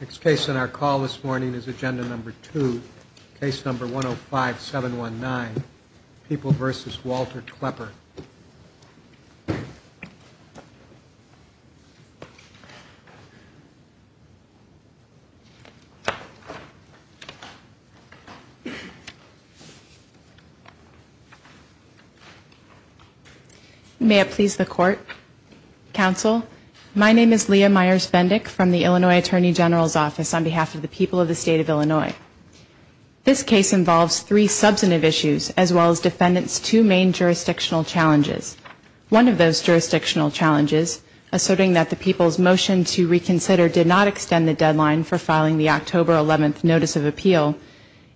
Next case on our call this morning is Agenda No. 2, Case No. 105719, People v. Walter Klepper. May it please the Court, Counsel, my name is Leah Myers-Bendick from the Illinois Attorney General's Office on behalf of the people of the state of Illinois. This case involves three substantive issues as well as Defendant's two main jurisdictional challenges. One of those jurisdictional challenges, asserting that the people's motion to reconsider did not extend the deadline for filing the October 11th Notice of Appeal,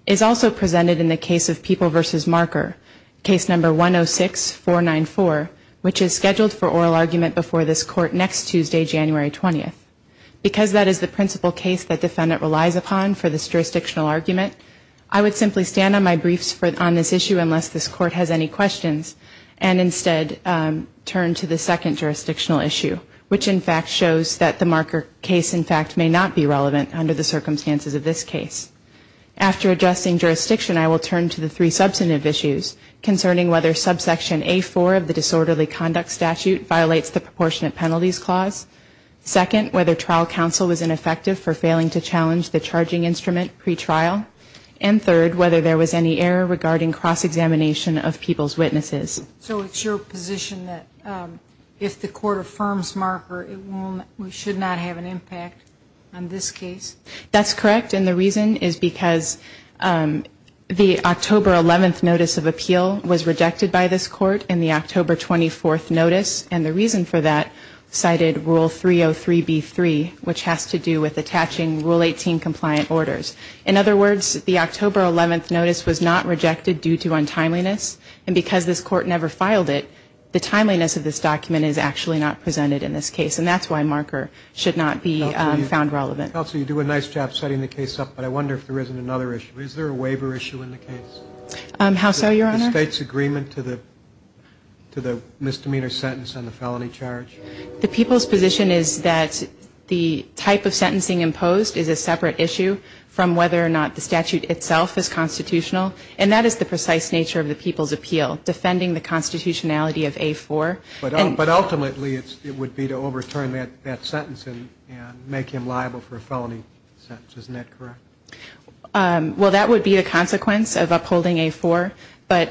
is also presented in the case of People v. Marker, Case No. 106494, which is scheduled for oral argument before this Court next Tuesday, January 20th. Because that is the principal case that Defendant relies upon for this jurisdictional argument, I would simply stand on my briefs on this issue unless this Court has any questions and instead turn to the second jurisdictional issue, which in fact shows that the Marker case in fact may not be relevant under the circumstances of this case. After adjusting jurisdiction, I will turn to the three substantive issues concerning whether subsection A-4 of the disorderly conduct statute violates the ineffective for failing to challenge the charging instrument pretrial, and third, whether there was any error regarding cross-examination of people's witnesses. So it's your position that if the Court affirms Marker, we should not have an impact on this case? That's correct, and the reason is because the October 11th Notice of Appeal was rejected by this Court in the October 24th Notice, and the reason for that cited Rule 303B3, which has to do with attaching Rule 18 compliant orders. In other words, the October 11th Notice was not rejected due to untimeliness, and because this Court never filed it, the timeliness of this document is actually not presented in this case, and that's why Marker should not be found relevant. Counsel, you do a nice job setting the case up, but I wonder if there isn't another issue. Is there a waiver issue in the case? How so, Your Honor? State's agreement to the misdemeanor sentence on the felony charge? The people's position is that the type of sentencing imposed is a separate issue from whether or not the statute itself is constitutional, and that is the precise nature of the people's appeal, defending the constitutionality of A4. But ultimately, it would be to overturn that sentence and make him liable for a felony sentence. Isn't that correct? Well, that would be a consequence of upholding A4, but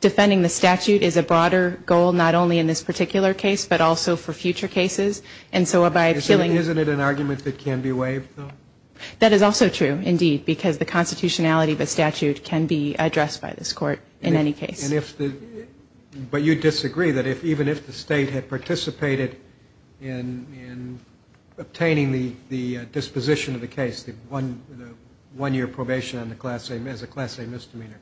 defending the statute is a broader goal not only in this particular case, but also for future cases. And so by appealing... Isn't it an argument that can be waived, though? That is also true, indeed, because the constitutionality of a statute can be addressed by this Court in any case. But you disagree that even if the State had participated in obtaining the disposition of the case, the one-year probation as a class A misdemeanor,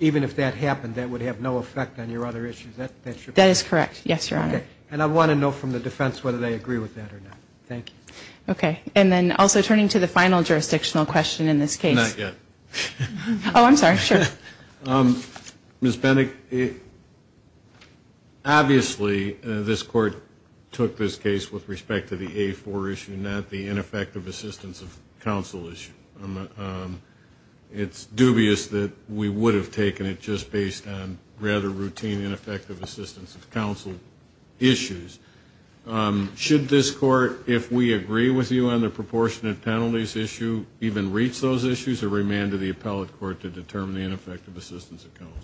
even if that happened, that would have no effect on your other issues. That's your point? That is correct, yes, Your Honor. Okay. And I want to know from the defense whether they agree with that or not. Thank you. Okay. And then also turning to the final jurisdictional question in this case... Not yet. Oh, I'm sorry. Sure. Ms. Bennett, obviously this Court took this case with respect to the A4 issue, not the ineffective assistance of counsel issue. It's dubious that we would have taken it just based on rather routine ineffective assistance of counsel issues. Should this Court, if we agree with you on the proportionate penalties issue, even reach those issues or remand to the appellate court to determine the ineffective assistance of counsel?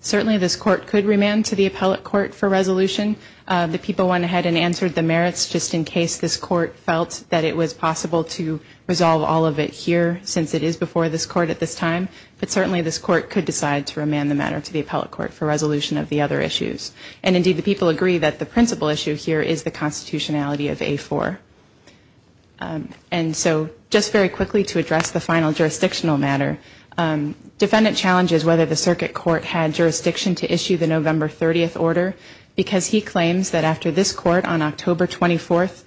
Certainly this Court could remand to the appellate court for resolution. The people went ahead and answered the merits just in case this Court felt that it was possible to resolve all of it here, since it is before this Court at this time. But certainly this Court could decide to remand the matter to the appellate court for resolution of the other issues. And, indeed, the people agree that the principal issue here is the constitutionality of A4. And so just very quickly to address the final jurisdictional matter, defendant challenges whether the circuit court had jurisdiction to issue the November 30th order, because he claims that after this Court on October 24th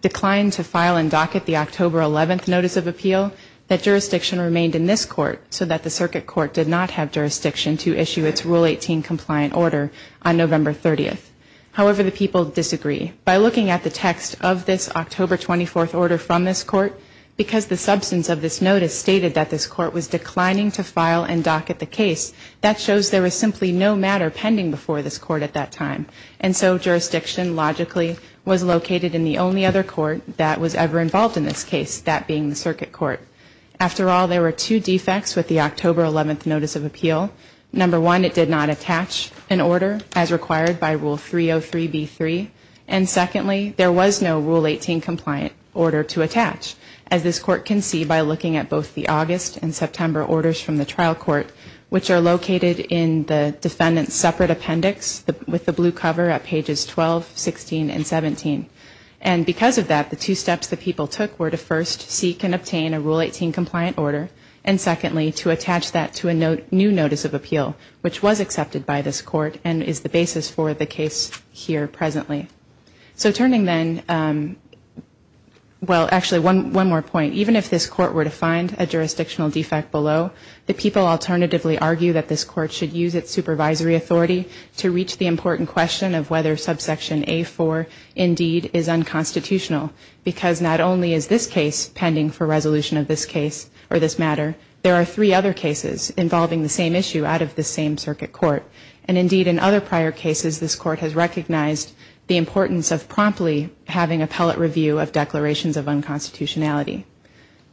declined to file and docket the October 11th notice of appeal, that jurisdiction remained in this Court, so that the circuit court did not have jurisdiction to issue its Rule 18 compliant order on November 30th. However, the people disagree. By looking at the text of this October 24th order from this Court, because the substance of this notice stated that this Court was declining to file and docket the case, that shows there was simply no matter pending before this Court at that time. And so jurisdiction, logically, was located in the only other court that was ever involved in this case, that being the circuit court. After all, there were two defects with the October 11th notice of appeal. Number one, it did not attach an order as required by Rule 303B3. And secondly, there was no Rule 18 compliant order to attach, as this Court can see by looking at both the August and September orders from the trial court, which are located in the defendant's separate appendix with the blue cover at pages 12, 16, and 17. And because of that, the two steps the people took were to first seek and obtain a Rule 18 compliant order, and secondly, to attach that to a new notice of appeal, which was accepted by this Court and is the basis for the case here presently. So turning then, well, actually, one more point. Even if this Court were to find a jurisdictional defect below, the people alternatively argue that this Court should use its supervisory authority to reach the important question of whether subsection A4 indeed is unconstitutional, because not only is this case pending for resolution of this case or this matter, there are three other cases involving the same issue out of this same circuit court. And indeed, in other prior cases, this Court has recognized the importance of promptly having appellate review of declarations of unconstitutionality.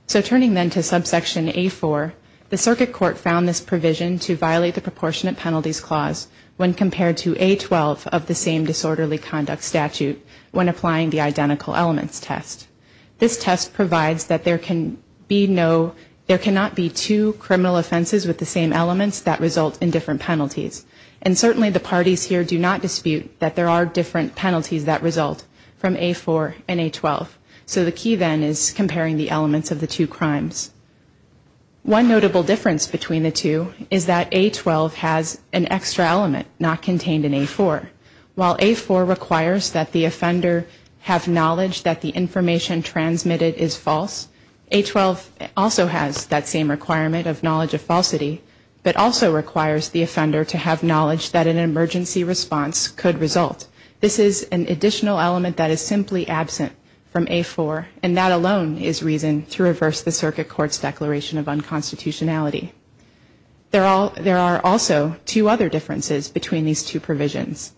So turning then to subsection A4, the circuit court found this provision to violate the proportionate penalties clause when compared to A12 of the same disorderly conduct statute when applying the identical elements test. This test provides that there can be no, there cannot be two criminal offenses with the same elements that result in different penalties. And certainly the parties here do not dispute that there are different penalties that result from A4 and A12. So the key then is comparing the elements of the two crimes. One notable difference between the two is that A12 has an extra element not contained in A4. While A4 requires that the offender have knowledge that the information transmitted is false, A12 also has that same requirement of knowledge of falsity, but also requires the offender to have knowledge that an emergency response could result. This is an additional element that is simply absent from A4, and that alone is reason to reverse the circuit court's declaration of unconstitutionality. There are also two other differences between these two provisions.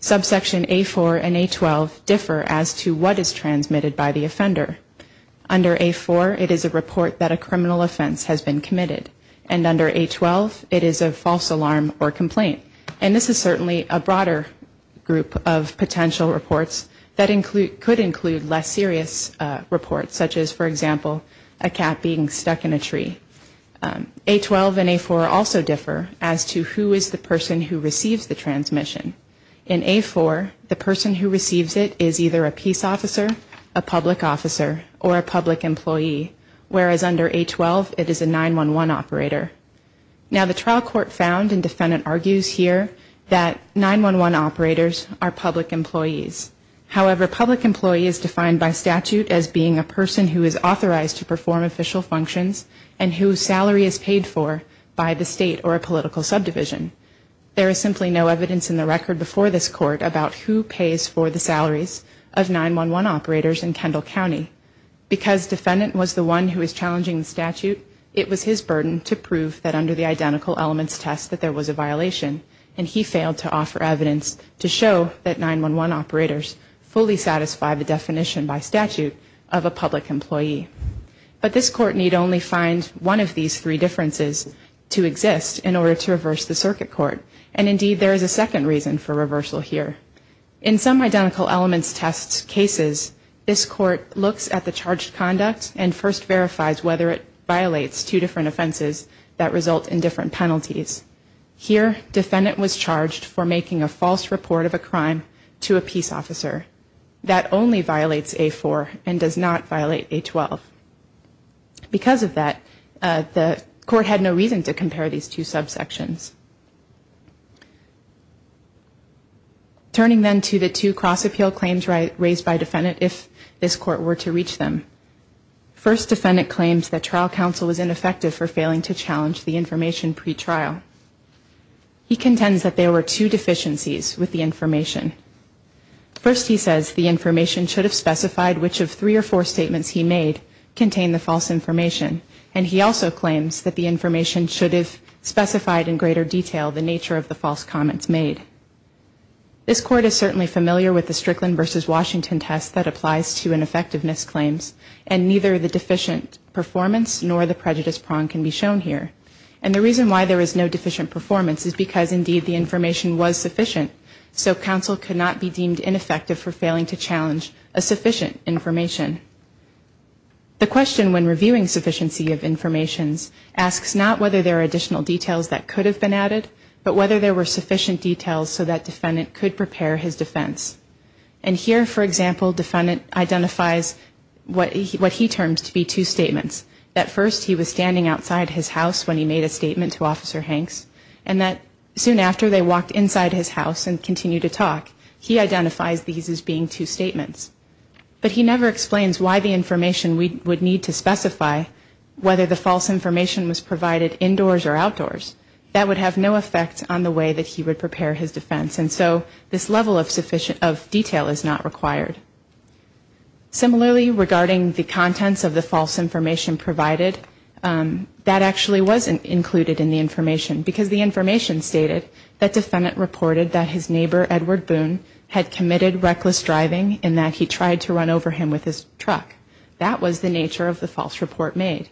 Subsection A4 and A12 differ as to what is transmitted by the offender. Under A4, it is a report that a criminal offense has been committed. And under A12, it is a false alarm or complaint. And this is certainly a broader group of potential reports that could include less serious reports, such as, for example, a cat being stuck in a tree. A12 and A4 also differ as to who is the person who receives the transmission. In A4, the person who receives it is either a peace officer, a public officer, or a public employee, whereas under A12, it is a 911 operator. Now, the trial court found, and defendant argues here, that 911 operators are public employees. However, public employee is defined by statute as being a person who is authorized to perform official functions and whose salary is paid for by the state or a political subdivision. There is simply no evidence in the record before this court about who pays for the salaries of 911 operators in Kendall County. Because defendant was the one who was challenging the statute, it was his burden to prove that under the identical elements test that there was a violation, and he failed to offer evidence to show that 911 operators fully satisfy the definition by statute of a public employee. But this court need only find one of these three differences to exist in order to reverse the circuit court. And indeed, there is a second reason for reversal here. In some identical elements test cases, this court looks at the charged conduct and first verifies whether it violates two different offenses that result in different penalties. Here, defendant was charged for making a false report of a crime to a peace officer. That only violates A4 and does not violate A12. Because of that, the court had no reason to compare these two subsections. Turning then to the two cross appeal claims raised by defendant if this court were to reach them. First, defendant claims that trial counsel was ineffective for failing to challenge the information pretrial. He contends that there were two deficiencies with the information. First, he says the information should have specified which of three or four statements he made contain the false information. And he also claims that the information should have specified in greater detail the nature of the false comments made. This court is certainly familiar with the Strickland versus Washington test that applies to an effectiveness claims. And neither the deficient performance nor the prejudice prong can be shown here. And the reason why there is no deficient performance is because indeed the information was sufficient. So counsel could not be deemed ineffective for failing to challenge a sufficient information. The question when reviewing sufficiency of information asks not whether there are additional details that could have been added, but whether there were sufficient details so that defendant could prepare his defense. And here, for example, defendant identifies what he terms to be two statements. That first he was standing outside his house when he made a statement to Officer Hanks. And that soon after they walked inside his house and continued to talk, he identifies these as being two statements. But he never explains why the information we would need to specify whether the false information was provided indoors or outdoors. That would have no effect on the way that he would prepare his defense. And so this level of detail is not required. Similarly, regarding the contents of the false information provided, that actually wasn't included in the information. Because the information stated that defendant reported that his neighbor, Edward Boone, had committed reckless driving and that he tried to run over him with his truck. That was the nature of the false report made.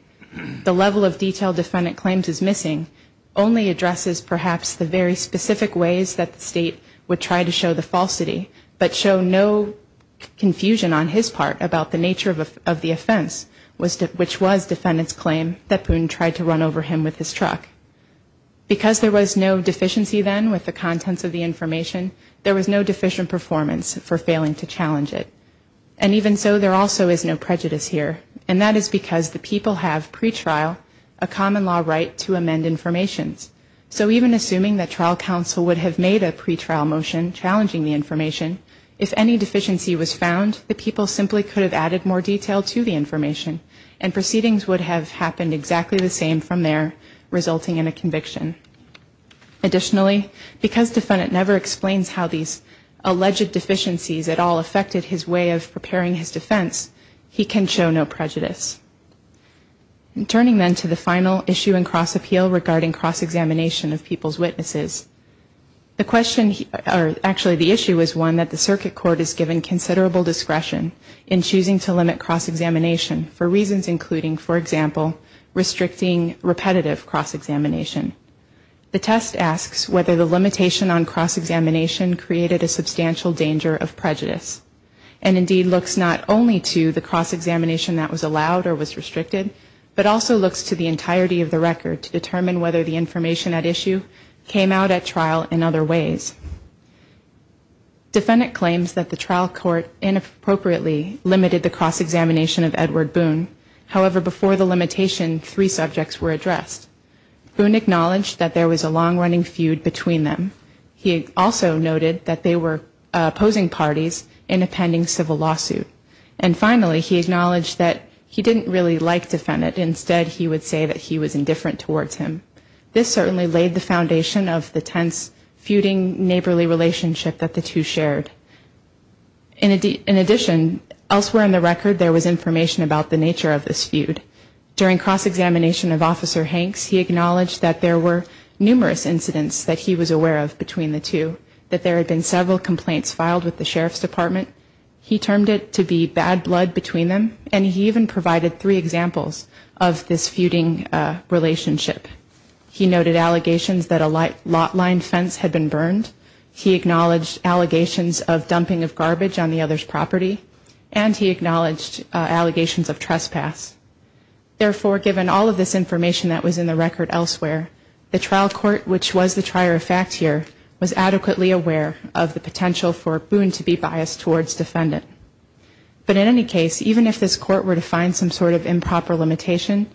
The level of detail defendant claims is missing only addresses perhaps the very specific ways that the state would try to show the falsity, but show no confusion on his part about the nature of the offense, which was defendant's claim that Boone tried to run over him with his truck. Because there was no deficiency then with the contents of the information, there was no deficient performance for failing to challenge it. And even so, there also is no prejudice here. And that is because the people have pretrial, a common law right to amend information. So even assuming that trial counsel would have made a pretrial motion challenging the information, if any deficiency was found, the people simply could have added more detail to the information. And proceedings would have happened exactly the same from there, resulting in a conviction. Additionally, because defendant never explains how these alleged deficiencies at all affected his way of preparing his defense, he can show no prejudice. And turning then to the final issue in cross appeal regarding cross examination of people's witnesses. The question, or actually the issue is one that the circuit court is given considerable discretion in choosing to limit cross examination for reasons including, for example, restricting repetitive cross examination. The test asks whether the limitation on cross examination created a substantial danger of prejudice. And indeed looks not only to the cross examination that was allowed or was restricted, but also looks to the entirety of the record to determine whether the information at issue came out at trial in other ways. Defendant claims that the trial court inappropriately limited the cross examination of Edward Boone. However, before the limitation, three subjects were addressed. Boone acknowledged that there was a long running feud between them. He also noted that they were opposing parties in a pending civil lawsuit. And finally, he acknowledged that he didn't really like defendant. Instead, he would say that he was indifferent towards him. This certainly laid the foundation of the tense feuding neighborly relationship that the two shared. In addition, elsewhere in the record, there was information about the nature of this feud. During cross examination of Officer Hanks, he acknowledged that there were numerous incidents that he was aware of between the two. That there had been several complaints filed with the Sheriff's Department. He termed it to be bad blood between them. And he even provided three examples of this feuding relationship. He noted allegations that a lot line fence had been burned. He acknowledged allegations of dumping of garbage on the other's property. And he acknowledged allegations of trespass. Therefore, given all of this information that was in the record elsewhere, the trial court, which was the trier of fact here, was adequately aware of the potential for Boone to be biased towards defendant. But in any case, even if this court were to find some sort of improper limitation,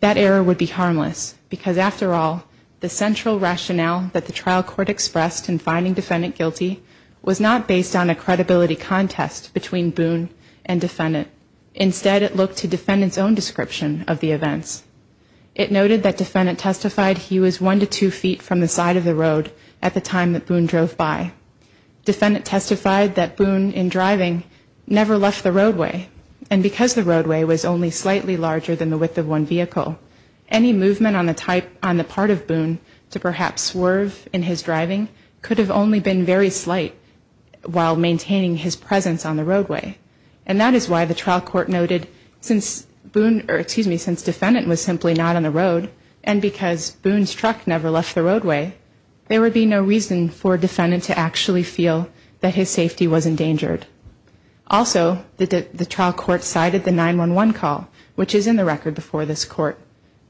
that error would be harmless. Because after all, the central rationale that the trial court expressed in finding defendant guilty, was not based on a credibility contest between Boone and defendant. Instead, it looked to defendant's own description of the events. It noted that defendant testified he was one to two feet from the side of the road at the time that Boone drove by. Defendant testified that Boone, in driving, never left the roadway. And because the roadway was only slightly larger than the width of one vehicle, any movement on the part of Boone to perhaps swerve in his driving, could have only been very slight while maintaining his presence on the roadway. And that is why the trial court noted, since Boone, or excuse me, since defendant was simply not on the road, and because Boone's truck never left the roadway, there would be no reason for defendant to actually feel that his safety was endangered. Also, the trial court cited the 911 call, which is in the record before this court.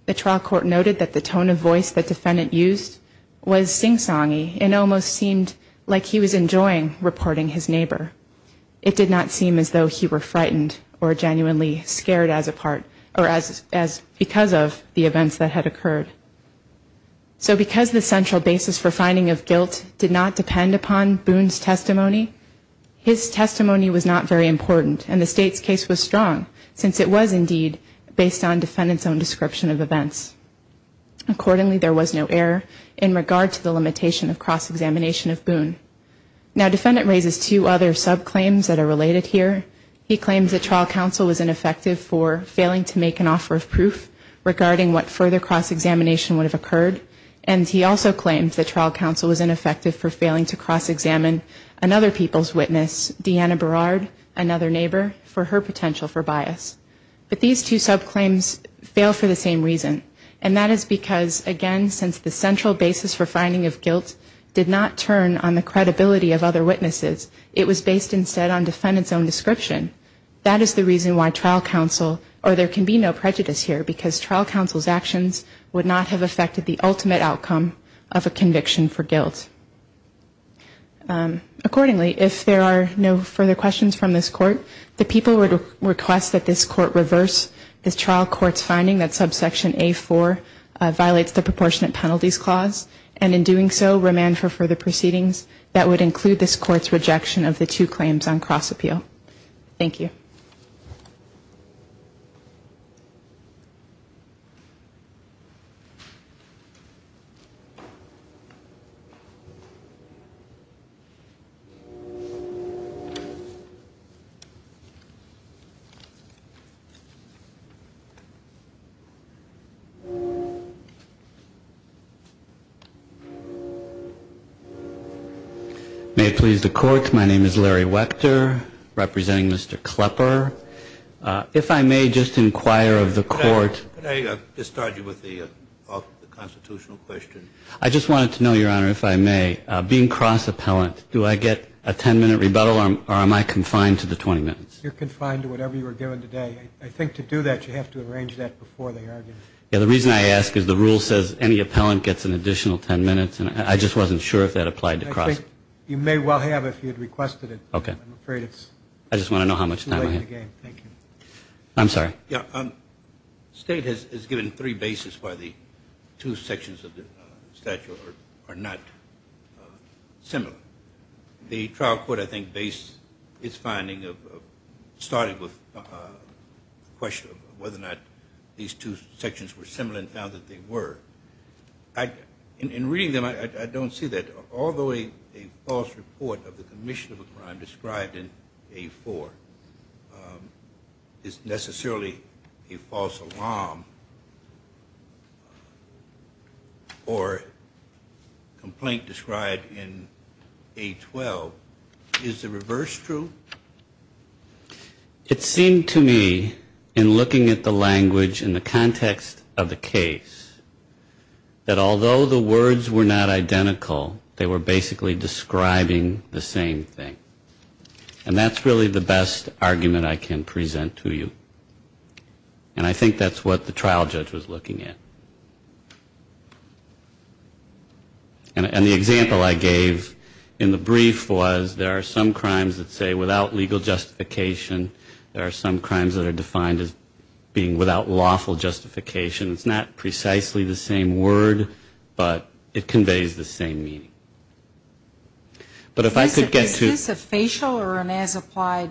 The trial court noted that the tone of voice that defendant used was sing-songy, and almost seemed like he was enjoying reporting his neighbor. It did not seem as though he were frightened or genuinely scared as a part, or as because of the events that had occurred. So because the central basis for finding of guilt did not depend upon Boone's testimony, his testimony was not very important, and the state's case was strong, since it was indeed based on defendant's own description of events. Accordingly, there was no error in regard to the limitation of cross-examination of Boone. Now defendant raises two other sub-claims that are related here. He claims that trial counsel was ineffective for failing to make an offer of proof, regarding what further cross-examination would have occurred, and he also claims that trial counsel was ineffective for failing to cross-examine another people's witness, Deanna Berard, another neighbor, for her potential for bias. But these two sub-claims fail for the same reason, and that is because, again, since the central basis for finding of guilt did not turn on the credibility of other witnesses, it was based instead on defendant's own description. That is the reason why trial counsel, or there can be no prejudice here, because trial counsel's actions would not have affected the ultimate outcome of a conviction for guilt. Accordingly, if there are no further questions from this court, the people would request that this court reverse the trial court's finding that subsection A-4 violates the proportionate penalties clause, and in doing so, remand for further proceedings that would include this court's rejection of the two claims on cross-appeal. Thank you. May it please the Court, my name is Larry Wechter, representing Mr. Klepper. If I may just inquire of the Court... Could I discharge you with the constitutional question? I just wanted to know, Your Honor, if I may, being cross-appellant, do I get a 10-minute rebuttal, or am I confined to the 20 minutes? You're confined to whatever you were given today. I think to do that, you have to arrange that before the argument. Yeah, the reason I ask is the rule says any appellant gets an additional 10 minutes, and I just wasn't sure if that applied to cross... I think you may well have if you had requested it. Okay. I'm afraid it's... I just want to know how much time I have. It's too late in the game. Thank you. I'm sorry. State has given three bases why the two sections of the statute are not similar. The trial court, I think, based its finding of... started with the question of whether or not these two sections were similar and found that they were. In reading them, I don't see that. Although a false report of the commission of a crime described in A4 is necessarily a false alarm or complaint described in A12. Is the reverse true? It seemed to me, in looking at the language and the context of the case, that although the words were not identical, they were basically describing the same thing. And that's really the best argument I can present to you. And I think that's what the trial judge was looking at. And the example I gave in the brief was there are some crimes that say without legal justification. There are some crimes that are defined as being without lawful justification. It's not precisely the same word, but it conveys the same meaning. But if I could get to... Is this a facial or an as-applied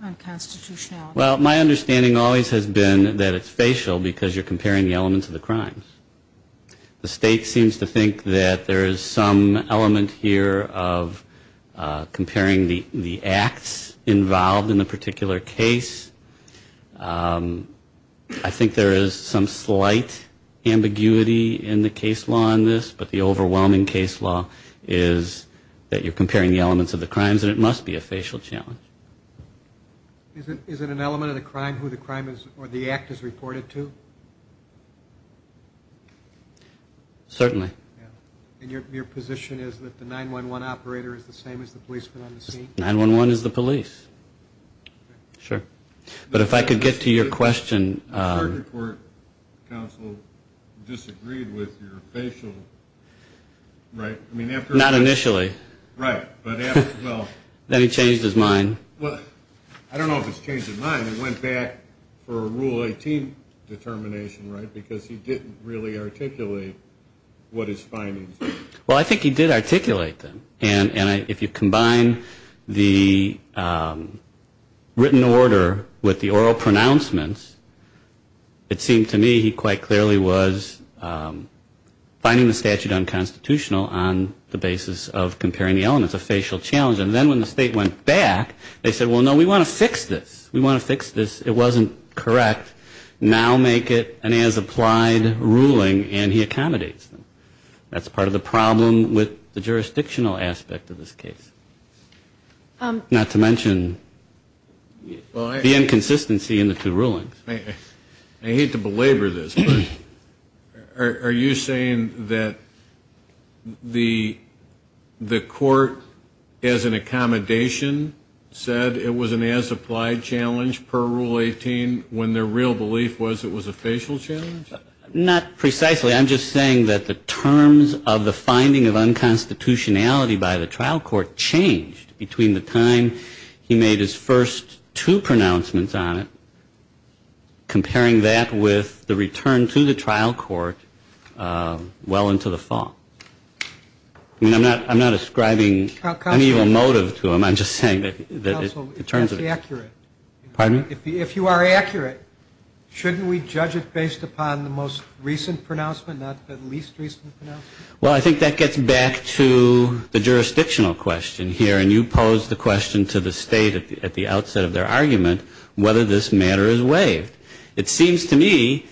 unconstitutionality? Well, my understanding always has been that it's facial because you're comparing the elements of the crimes. The state seems to think that there is some element here of comparing the acts involved in the particular case. I think there is some slight ambiguity in the case law in this, but the overwhelming case law is that you're comparing the elements of the crimes and it must be a facial challenge. Is it an element of the crime who the act is reported to? Certainly. And your position is that the 911 operator is the same as the policeman on the scene? 911 is the police. Sure. But if I could get to your question... Your Supreme Court counsel disagreed with your facial, right? Not initially. Right. Then he changed his mind. I don't know if it's changed his mind. He went back for a Rule 18 determination, right, because he didn't really articulate what his findings were. Well, I think he did articulate them. And if you combine the written order with the oral pronouncements, it seemed to me he quite clearly was finding the statute unconstitutional on the basis of comparing the elements, a facial challenge. And then when the state went back, they said, well, no, we want to fix this. We want to fix this. It wasn't correct. Now make it an as-applied ruling, and he accommodates them. That's part of the problem with the jurisdictional aspect of this case, not to mention the inconsistency in the two rulings. I hate to belabor this, but are you saying that the court, as an accommodation, said it was an as-applied challenge per Rule 18 when their real belief was it was a facial challenge? Not precisely. I'm just saying that the terms of the finding of unconstitutionality by the trial court changed between the time he made his first two pronouncements on it, comparing that with the return to the trial court well into the fall. I mean, I'm not ascribing any real motive to him. I'm just saying that in terms of it. Counsel, if that's accurate. Pardon me? If you are accurate, shouldn't we judge it based upon the most recent pronouncement, not the least recent pronouncement? Well, I think that gets back to the jurisdictional question here, and you posed the question to the State at the outset of their argument whether this matter is waived. It seems to me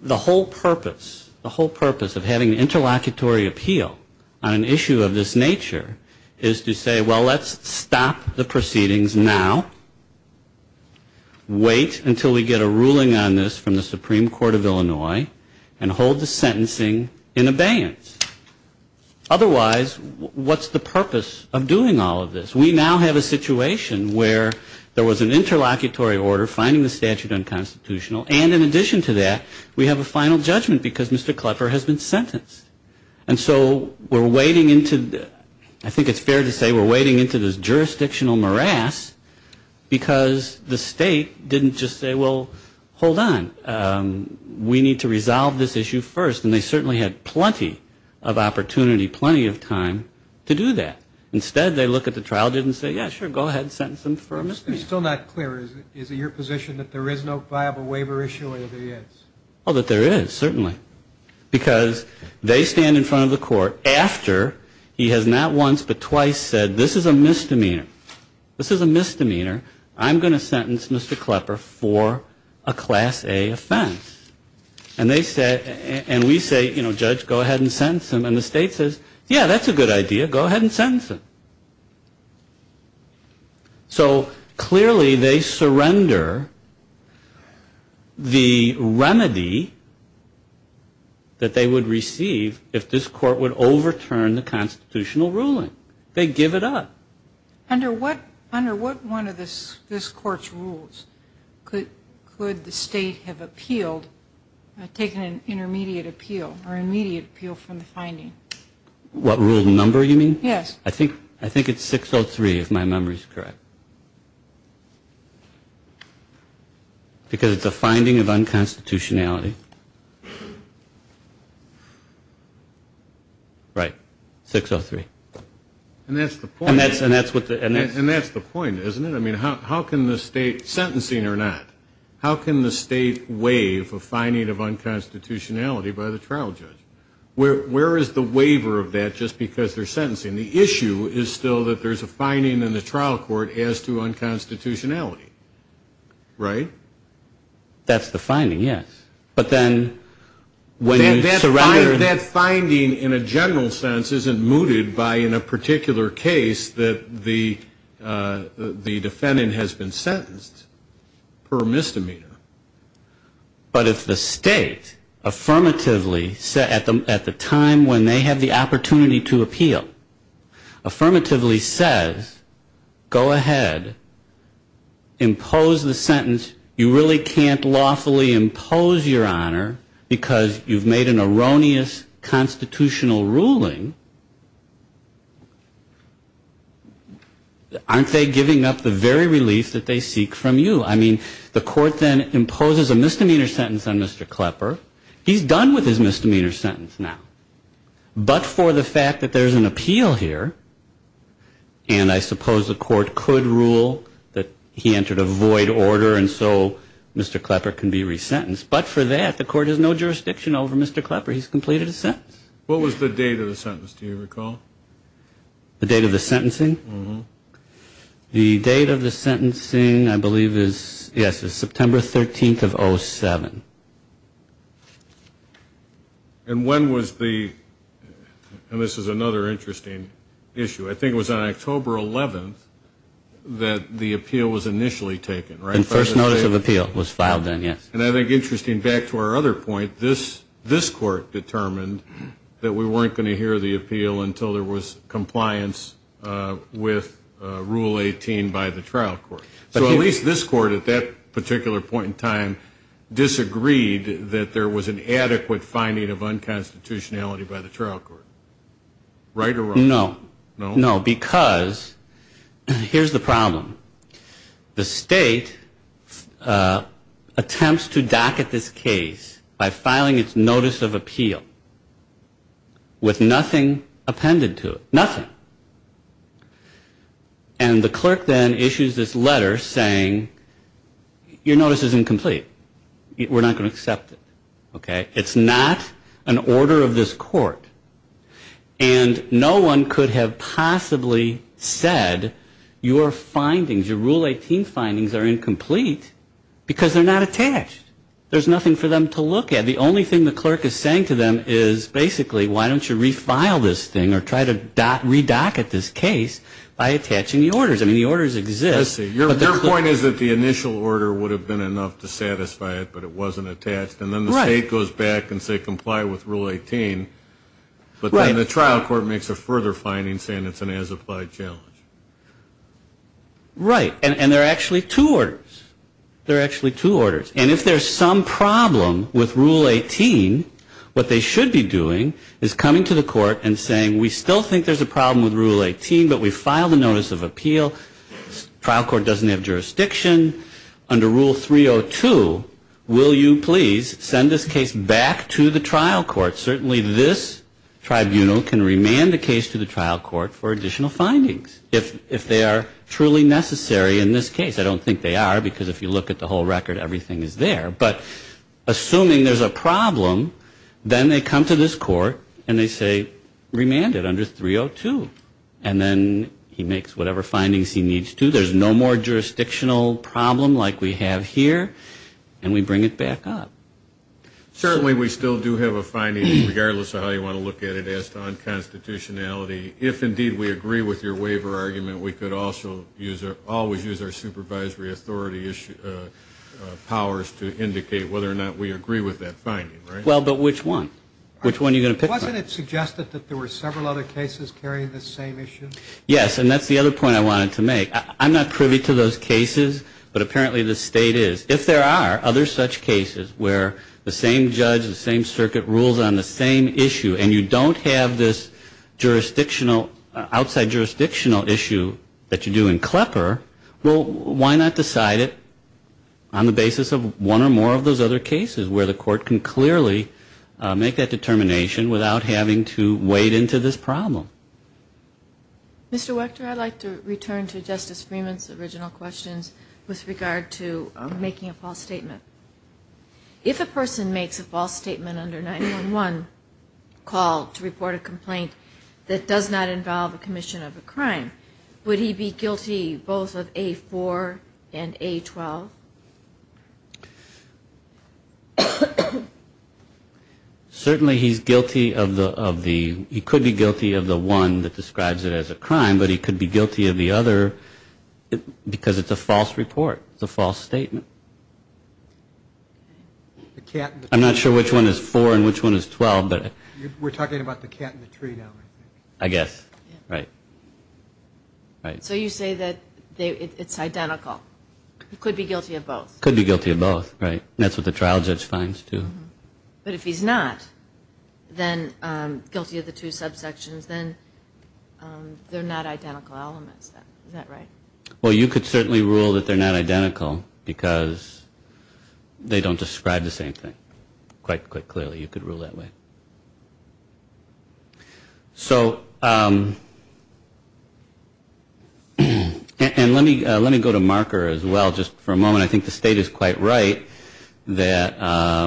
the whole purpose, the whole purpose of having an interlocutory appeal on an issue of this nature is to say, well, let's stop the proceedings now, wait until we get a ruling on this from the Supreme Court of Illinois, and hold the sentencing in abeyance. Otherwise, what's the purpose of doing all of this? We now have a situation where there was an interlocutory order finding the statute unconstitutional, and in addition to that, we have a final judgment because Mr. Klepper has been sentenced. And so we're wading into, I think it's fair to say we're wading into this jurisdictional morass, because the State didn't just say, well, hold on, we need to resolve this issue first, and they certainly had plenty of opportunity, plenty of time to do that. Instead, they look at the trial, didn't say, yeah, sure, go ahead and sentence them for amnesty. It's still not clear. Is it your position that there is no viable waiver issue, or there is? Oh, that there is, certainly. Because they stand in front of the court after he has not once but twice said, this is a misdemeanor. This is a misdemeanor. I'm going to sentence Mr. Klepper for a Class A offense. And they say, and we say, you know, Judge, go ahead and sentence him. And the State says, yeah, that's a good idea, go ahead and sentence him. So clearly they surrender the remedy that they would receive if this court would overturn the constitutional ruling. They give it up. Under what one of this Court's rules could the State have appealed, taken an intermediate appeal, or immediate appeal from the finding? What rule number you mean? Yes. I think it's 603, if my memory is correct. Because it's a finding of unconstitutionality. Right. 603. And that's the point, isn't it? I mean, how can the State, sentencing or not, how can the State waive a finding of unconstitutionality by the trial judge? Where is the waiver of that just because they're sentencing? And the issue is still that there's a finding in the trial court as to unconstitutionality. Right? That's the finding, yes. But then when you surrender. That finding in a general sense isn't mooted by in a particular case that the defendant has been sentenced per misdemeanor. But if the State affirmatively, at the time when they have the opportunity to appeal, affirmatively says, go ahead, impose the sentence. You really can't lawfully impose your honor because you've made an erroneous constitutional ruling. Aren't they giving up the very relief that they seek from you? I mean, the court then imposes a misdemeanor sentence on Mr. Klepper. He's done with his misdemeanor sentence now. But for the fact that there's an appeal here, and I suppose the court could rule that he entered a void order and so Mr. Klepper can be resentenced. But for that, the court has no jurisdiction over Mr. Klepper. He's completed his sentence. What was the date of the sentence, do you recall? The date of the sentencing? Mm-hmm. The date of the sentencing I believe is, yes, is September 13th of 07. And when was the, and this is another interesting issue, I think it was on October 11th that the appeal was initially taken, right? First notice of appeal was filed then, yes. And I think, interesting, back to our other point, this court determined that we weren't going to hear the appeal until there was compliance with Rule 18 by the trial court. So at least this court, at that particular point in time, disagreed that there was an adequate finding of unconstitutionality by the trial court, right or wrong? No. No, because here's the problem. The state attempts to docket this case by filing its notice of appeal with nothing appended to it. Nothing. And the clerk then issues this letter saying, your notice is incomplete. We're not going to accept it. Okay? It's not an order of this court. And no one could have possibly said, your findings, your Rule 18 findings are incomplete because they're not attached. There's nothing for them to look at. The only thing the clerk is saying to them is basically, why don't you refile this thing or try to redocket this case by attaching the orders. I mean, the orders exist. I see. Your point is that the initial order would have been enough to satisfy it, but it wasn't attached. Right. And then the state goes back and says comply with Rule 18. Right. But then the trial court makes a further finding saying it's an as-applied challenge. Right. And there are actually two orders. There are actually two orders. And if there's some problem with Rule 18, what they should be doing is coming to the court and saying, we still think there's a problem with Rule 18, but we file the notice of appeal. Trial court doesn't have jurisdiction. Under Rule 302, will you please send this case back to the trial court? Certainly this tribunal can remand the case to the trial court for additional findings, if they are truly necessary in this case. I don't think they are, because if you look at the whole record, everything is there. But assuming there's a problem, then they come to this court and they say remand it under 302. And then he makes whatever findings he needs to. There's no more jurisdictional problem like we have here. And we bring it back up. Certainly we still do have a finding, regardless of how you want to look at it, as to unconstitutionality. If, indeed, we agree with your waiver argument, we could also always use our supervisory authority powers to indicate whether or not we agree with that finding. Right? Well, but which one? Which one are you going to pick? Wasn't it suggested that there were several other cases carrying the same issue? Yes. And that's the other point I wanted to make. I'm not privy to those cases, but apparently the state is. If there are other such cases where the same judge, the same circuit rules on the same issue, and you don't have this outside jurisdictional issue that you do in Klepper, well, why not decide it on the basis of one or more of those other cases, where the court can clearly make that determination without having to wade into this problem? Mr. Wechter, I'd like to return to Justice Freeman's original questions with regard to making a false statement. If a person makes a false statement under 9-1-1, called to report a complaint that does not involve a commission of a crime, would he be guilty both of A4 and A12? Certainly he's guilty of the – he could be guilty of the one that describes it as a crime, but he could be guilty of the other because it's a false report. It's a false statement. I'm not sure which one is 4 and which one is 12. We're talking about the cat in the tree now, I think. I guess. Right. So you say that it's identical. He could be guilty of both. Could be guilty of both. Right. That's what the trial judge finds, too. But if he's not, then guilty of the two subsections, then they're not identical elements. Is that right? Well, you could certainly rule that they're not identical because they don't describe the same thing quite clearly. You could rule that way. So – and let me go to Marker as well just for a moment. I think the state is quite right that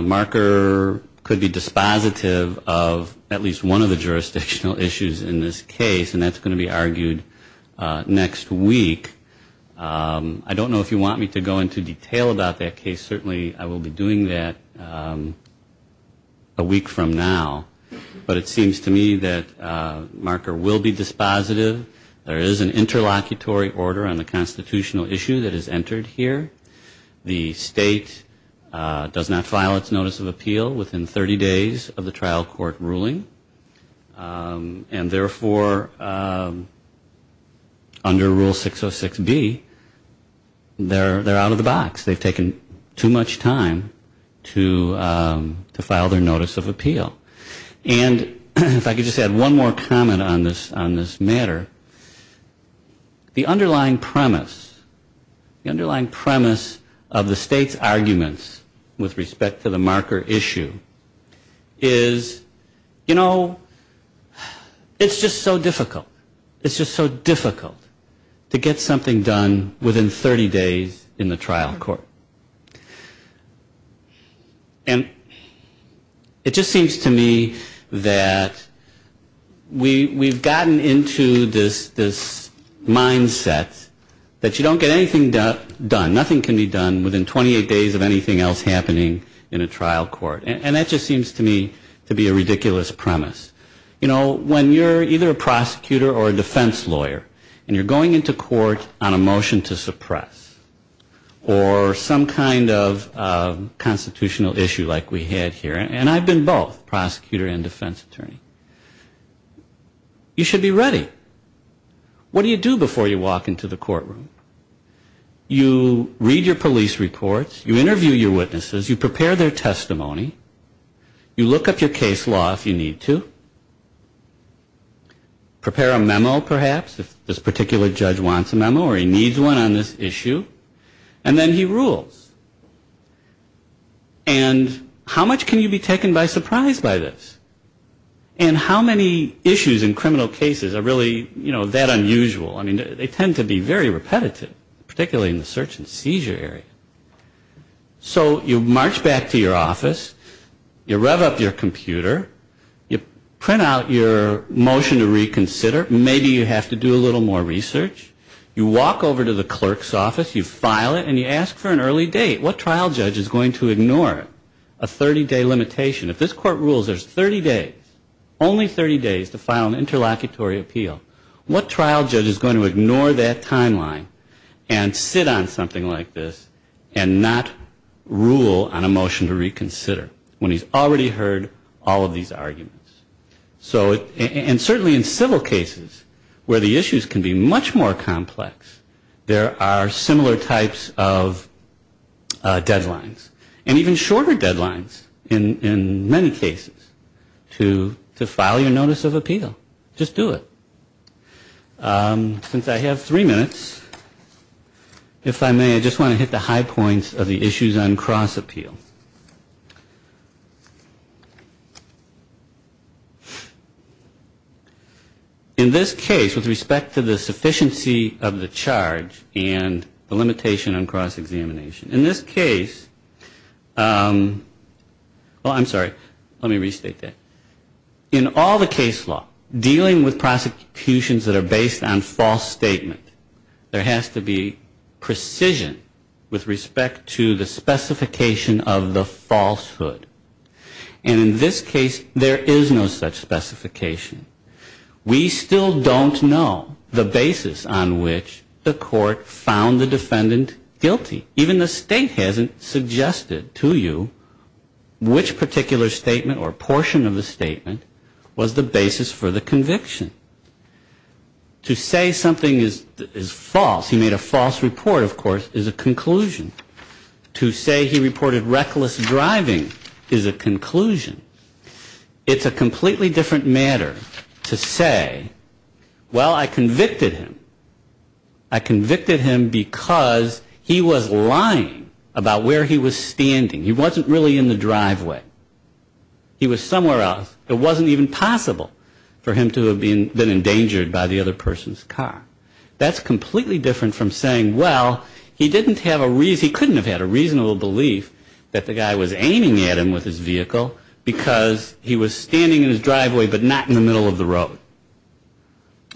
Marker could be dispositive of at least one of the jurisdictional issues in this case, and that's going to be argued next week. I don't know if you want me to go into detail about that case. Certainly I will be doing that a week from now. But it seems to me that Marker will be dispositive. There is an interlocutory order on the constitutional issue that is entered here. The state does not file its notice of appeal within 30 days of the trial court ruling. And therefore, under Rule 606B, they're out of the box. They've taken too much time to file their notice of appeal. And if I could just add one more comment on this matter. The underlying premise of the state's arguments with respect to the Marker issue is, you know, it's just so difficult. It's just so difficult to get something done within 30 days in the trial court. And it just seems to me that we've gotten into this mindset that you don't get anything done. Nothing can be done within 28 days of anything else happening in a trial court. And that just seems to me to be a ridiculous premise. You know, when you're either a prosecutor or a defense lawyer and you're going into court on a motion to suppress or some kind of constitutional issue like we had here, and I've been both prosecutor and defense attorney, you should be ready. What do you do before you walk into the courtroom? You read your police reports. You interview your witnesses. You prepare their testimony. You look up your case law if you need to. Prepare a memo, perhaps, if this particular judge wants a memo or he needs one on this issue. And then he rules. And how much can you be taken by surprise by this? And how many issues in criminal cases are really, you know, that unusual? I mean, they tend to be very repetitive, particularly in the search and seizure area. So you march back to your office. You rev up your computer. You print out your motion to reconsider. Maybe you have to do a little more research. You walk over to the clerk's office. You file it. And you ask for an early date. What trial judge is going to ignore a 30-day limitation? If this court rules there's 30 days, only 30 days to file an interlocutory appeal, what trial judge is going to ignore that timeline and sit on something like this and not rule on a motion to reconsider when he's already heard all of these arguments? So, and certainly in civil cases where the issues can be much more complex, there are similar types of deadlines. And even shorter deadlines in many cases to file your notice of appeal. Just do it. Since I have three minutes, if I may, I just want to hit the high points of the issues on cross-appeal. In this case, with respect to the sufficiency of the charge and the limitation on cross-examination, in this case, well, I'm sorry. Let me restate that. In all the case law, dealing with prosecutions that are based on false statement, there has to be precision with respect to the specification of the falsehood. And in this case, there is no such specification. We still don't know the basis on which the court found the defendant guilty. Even the state hasn't suggested to you which particular statement or portion of the statement was the basis for the conviction. To say something is false, he made a false report, of course, is a conclusion. To say he reported reckless driving is a conclusion. It's a completely different matter to say, well, I convicted him. I convicted him because he was lying about where he was standing. He wasn't really in the driveway. He was somewhere else. It wasn't even possible for him to have been endangered by the other person's car. That's completely different from saying, well, he couldn't have had a reasonable belief that the guy was aiming at him with his vehicle, because he was standing in his driveway but not in the middle of the road.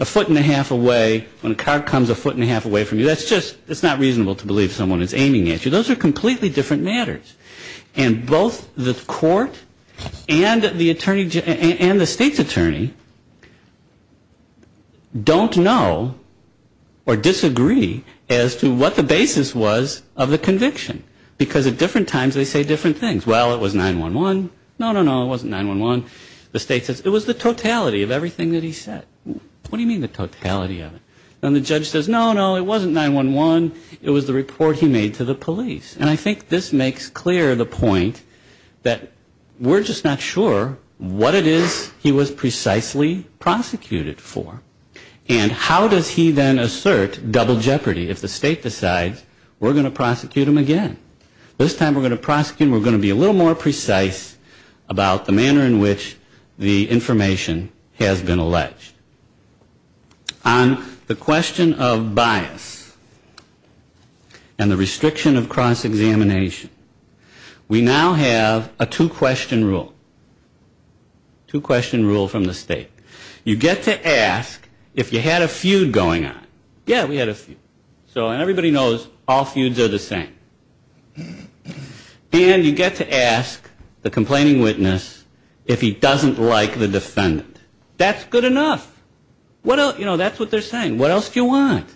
A foot and a half away, when a car comes a foot and a half away from you, that's not reasonable to believe someone is aiming at you. Those are completely different matters. And both the court and the state's attorney don't know or disagree as to what the basis was of the conviction. Because at different times they say different things. Well, it was 911. No, no, no, it wasn't 911. The state says it was the totality of everything that he said. What do you mean the totality of it? And the judge says, no, no, it wasn't 911. It was the report he made to the police. And I think this makes clear the point that we're just not sure what it is he was precisely prosecuted for. And how does he then assert double jeopardy if the state decides we're going to prosecute him again? This time we're going to prosecute him, we're going to be a little more precise about the manner in which the information has been alleged. On the question of bias and the restriction of cross-examination, we now have a two-question rule. Two-question rule from the state. You get to ask if you had a feud going on. Yeah, we had a feud. And everybody knows all feuds are the same. And you get to ask the complaining witness if he doesn't like the defendant. That's good enough. That's what they're saying. What else do you want?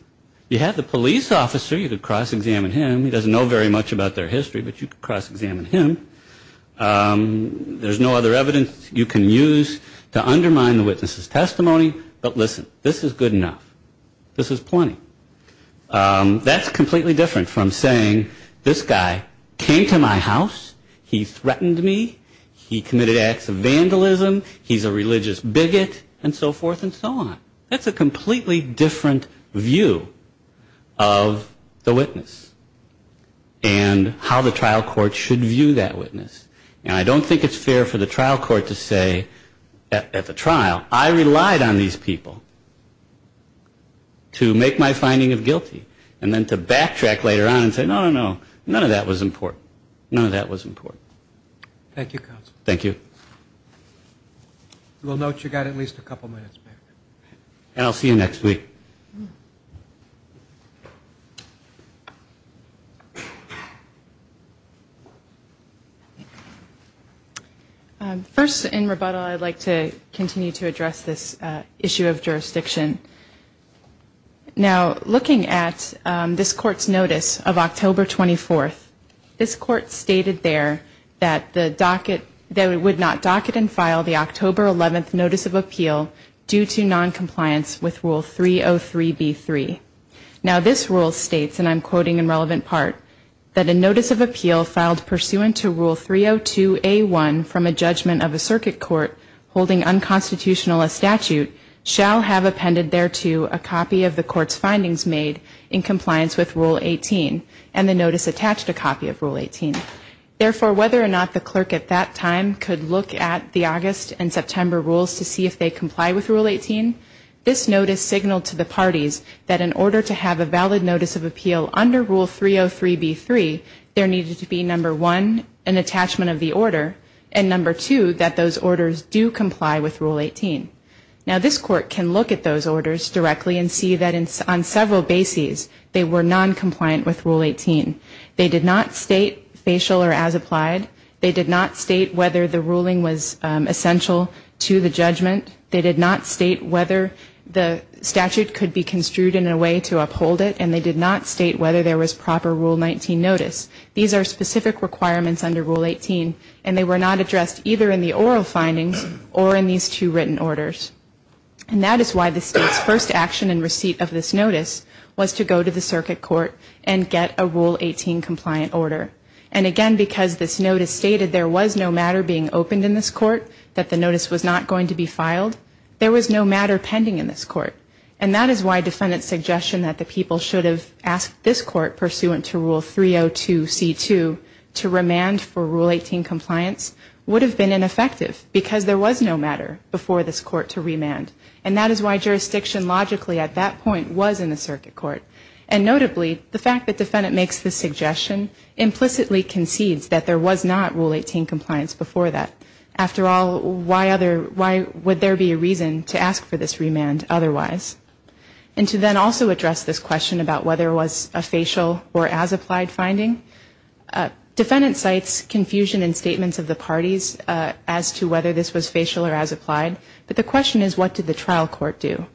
You have the police officer, you could cross-examine him. He doesn't know very much about their history, but you could cross-examine him. There's no other evidence you can use to undermine the witness's testimony. But listen, this is good enough. This is plenty. That's completely different from saying this guy came to my house, he threatened me, he committed acts of vandalism, he's a religious bigot, and so forth and so on. That's a completely different view of the witness and how the trial court should view that witness. And I don't think it's fair for the trial court to say at the trial, I relied on these people to make my finding of guilty. And then to backtrack later on and say, no, no, no, none of that was important. None of that was important. Thank you, counsel. Thank you. We'll note you got at least a couple minutes back. And I'll see you next week. First, in rebuttal, I'd like to continue to address this issue of jurisdiction. Now, looking at this court's notice of October 24th, this court stated there that it would not docket and file the October 11th notice of appeal due to noncompliance with Rule 303B3. Now, this rule states, and I'm quoting in relevant part, that a notice of appeal filed pursuant to Rule 302A1 from a judgment of a circuit court holding unconstitutional a statute shall have appended thereto a copy of the court's findings made in compliance with Rule 18 and the notice attached a copy of Rule 18. Therefore, whether or not the clerk at that time could look at the August and September rules to see if they comply with Rule 18, this notice signaled to the parties that in order to have a valid notice of appeal under Rule 303B3, there needed to be, number one, an attachment of the order, and number two, that those orders do comply with Rule 18. Now, this court can look at those orders directly and see that on several bases they were noncompliant with Rule 18. They did not state facial or as applied. They did not state whether the ruling was essential to the judgment. They did not state whether the statute could be construed in a way to uphold it, and they did not state whether there was proper Rule 19 notice. These are specific requirements under Rule 18, and they were not addressed either in the oral findings or in these two written orders. And that is why the state's first action in receipt of this notice was to go to the circuit court and get a Rule 18 compliant order. And again, because this notice stated there was no matter being opened in this court, that the notice was not going to be filed, there was no matter pending in this court. And that is why defendant's suggestion that the people should have asked this court pursuant to Rule 302C2 to remand for Rule 18 compliance would have been ineffective, because there was no matter before this court to remand. And that is why jurisdiction logically at that point was in the circuit court. And notably, the fact that defendant makes this suggestion implicitly concedes that there was not Rule 18 compliance before that. After all, why would there be a reason to ask for this remand otherwise? And to then also address this question about whether it was a facial or as-applied finding, defendant cites confusion in statements of the parties as to whether this was facial or as-applied, but the question is, what did the trial court do?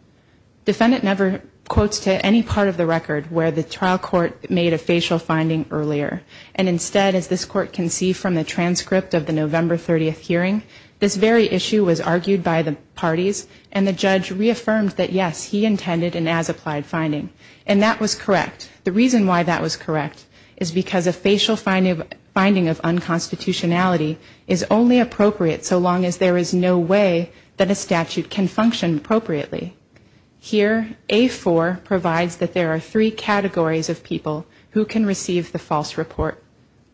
Defendant never quotes to any part of the record where the trial court made a facial finding earlier. And instead, as this court can see from the transcript of the November 30th hearing, this very issue was argued by the parties, and the judge reaffirmed that, yes, he intended an as-applied finding. And that was correct. The reason why that was correct is because a facial finding of unconstitutionality is only appropriate so long as there is no way that a statute can function appropriately. Here, A4 provides that there are three categories of people who can receive the false report.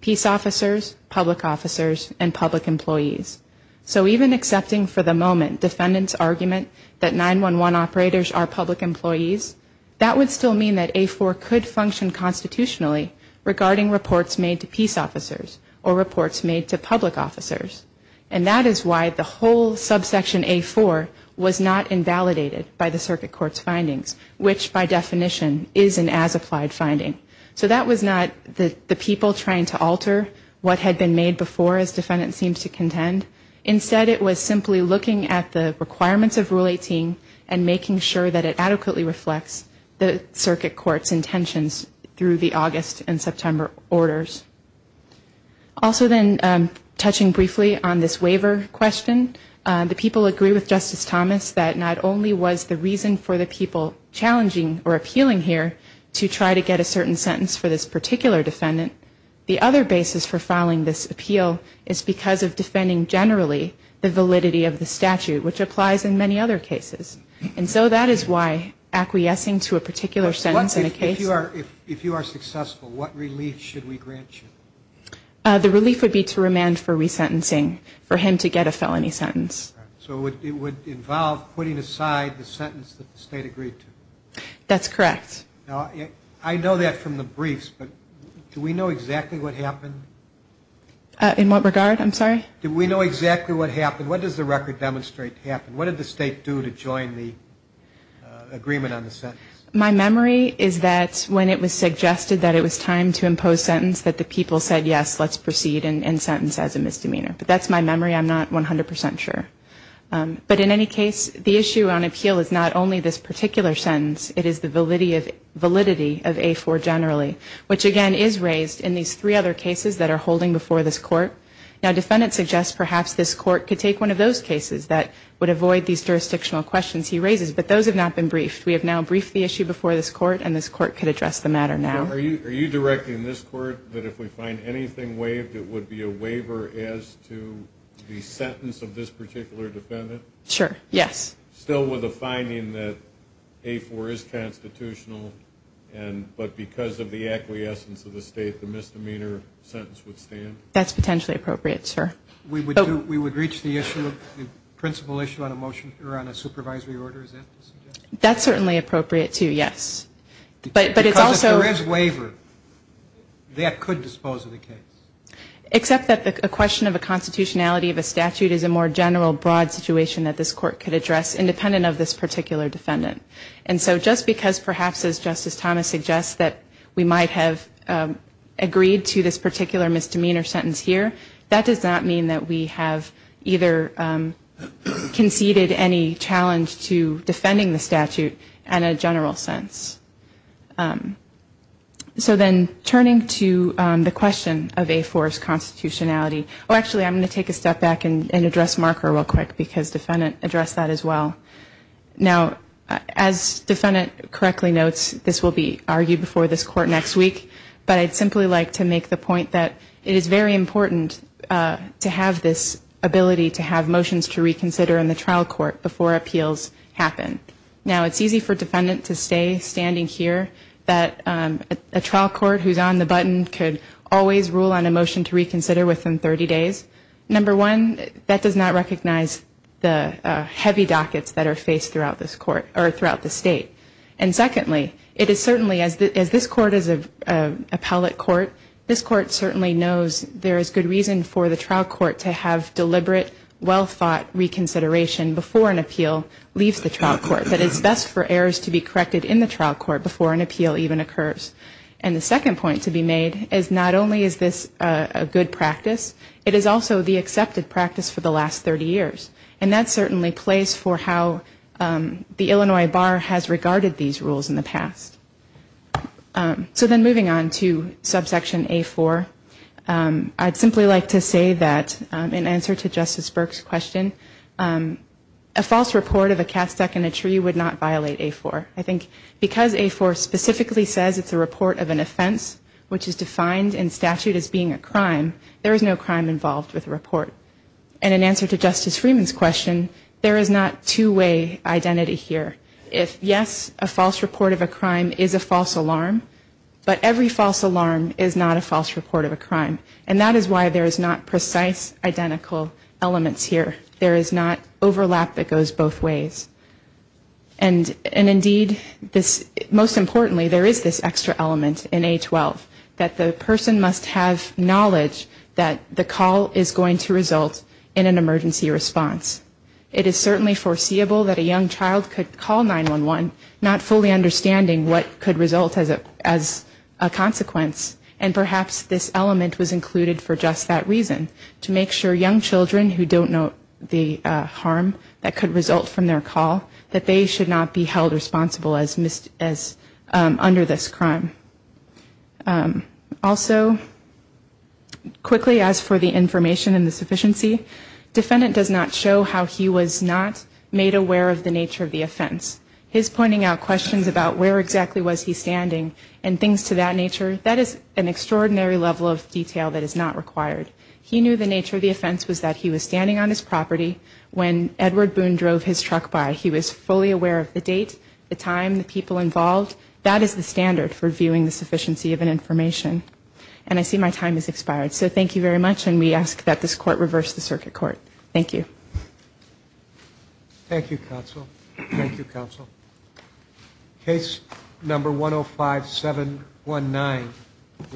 Peace officers, public officers, and public employees. So even accepting for the moment defendant's argument that 911 operators are public employees, that would still mean that A4 could function constitutionally regarding reports made to peace officers or reports made to public officers. And that is why the whole subsection A4 was not invalidated by the circuit court's findings, which by definition is an as-applied finding. So that was not the people trying to alter what had been made before, as defendant seems to contend. Instead, it was simply looking at the requirements of Rule 18 and making sure that it adequately reflects the circuit court's intentions through the August and September orders. Also then, touching briefly on this waiver question, the people agree with Justice Thomas that not only was the reason for the people challenging or appealing here to try to get a certain sentence for this particular defendant, the other basis for filing this appeal is because of defending generally the validity of the statute, which applies in many other cases. And so that is why acquiescing to a particular sentence in a case... The relief would be to remand for resentencing, for him to get a felony sentence. So it would involve putting aside the sentence that the state agreed to? That's correct. Now, I know that from the briefs, but do we know exactly what happened? In what regard? I'm sorry? Do we know exactly what happened? What does the record demonstrate happened? What did the state do to join the agreement on the sentence? My memory is that when it was suggested that it was time to impose sentence, that the people said, yes, let's proceed and sentence as a misdemeanor. But that's my memory. I'm not 100 percent sure. But in any case, the issue on appeal is not only this particular sentence. It is the validity of A4 generally, which again is raised in these three other cases that are holding before this court. Now, defendants suggest perhaps this court could take one of those cases that would avoid these jurisdictional questions he raises, but those have not been briefed. We have now briefed the issue before this court, and this court could address the matter now. Are you directing this court that if we find anything waived, it would be a waiver as to the sentence of this particular case? Sure. Yes. Still with the finding that A4 is constitutional, but because of the acquiescence of the state, the misdemeanor sentence would stand? That's potentially appropriate, sir. We would reach the principle issue on a motion or on a supervisory order? Is that the suggestion? That's certainly appropriate, too, yes. Because if there is waiver, that could dispose of the case. Except that the question of a constitutionality of a statute is a more general, broad situation that this court could address, independent of this particular defendant. And so just because perhaps, as Justice Thomas suggests, that we might have agreed to this particular misdemeanor sentence here, that does not mean that we have either conceded any challenge to defending the statute. In a general sense. So then turning to the question of A4's constitutionality. Oh, actually, I'm going to take a step back and address marker real quick, because defendant addressed that as well. Now, as defendant correctly notes, this will be argued before this court next week, but I'd simply like to make the point that it is very important to have this ability to have motions to reconsider in the trial court before appeals happen. It's easy for defendant to stay standing here, that a trial court who's on the button could always rule on a motion to reconsider within 30 days. Number one, that does not recognize the heavy dockets that are faced throughout this court, or throughout the state. And secondly, it is certainly, as this court is an appellate court, this court certainly knows there is good reason for the trial court to have deliberate, well-thought reconsideration before an appeal leaves the trial court. That it's best for errors to be corrected in the trial court before an appeal even occurs. And the second point to be made is not only is this a good practice, it is also the accepted practice for the last 30 years. And that certainly plays for how the Illinois bar has regarded these rules in the past. So then moving on to subsection A4. I'd simply like to say that in answer to Justice Burke's question, a false report of a cat stuck in a tree would not violate A4. I think because A4 specifically says it's a report of an offense, which is defined in statute as being a crime, there is no crime involved with a report. And in answer to Justice Freeman's question, there is not two-way identity here. If yes, a false report of a crime is a false alarm, but every false alarm is not a false report of a crime. And that is why there is not precise identical elements here. There is not overlap that goes both ways. And indeed, most importantly, there is this extra element in A12, that the person must have knowledge that the call is going to result in an emergency response. It is certainly foreseeable that a young child could call 911, not fully understanding what could result as a consequence. And perhaps this element was included for just that reason, to make sure young children who don't know the harm that could result from their call, that they should not be held responsible as under this crime. Also, quickly, as for the information and the sufficiency, defendant does not show how he was not made aware of the nature of the offense. His pointing out questions about where exactly was he standing and things to that nature, that is an extraordinary level of detail that is not required. He knew the nature of the offense was that he was standing on his property when Edward Boone drove his truck by. He was fully aware of the date, the time, the people involved. That is the standard for viewing the sufficiency of an information. And I see my time has expired, so thank you very much, and we ask that this court reverse the circuit court. Thank you. Thank you, counsel.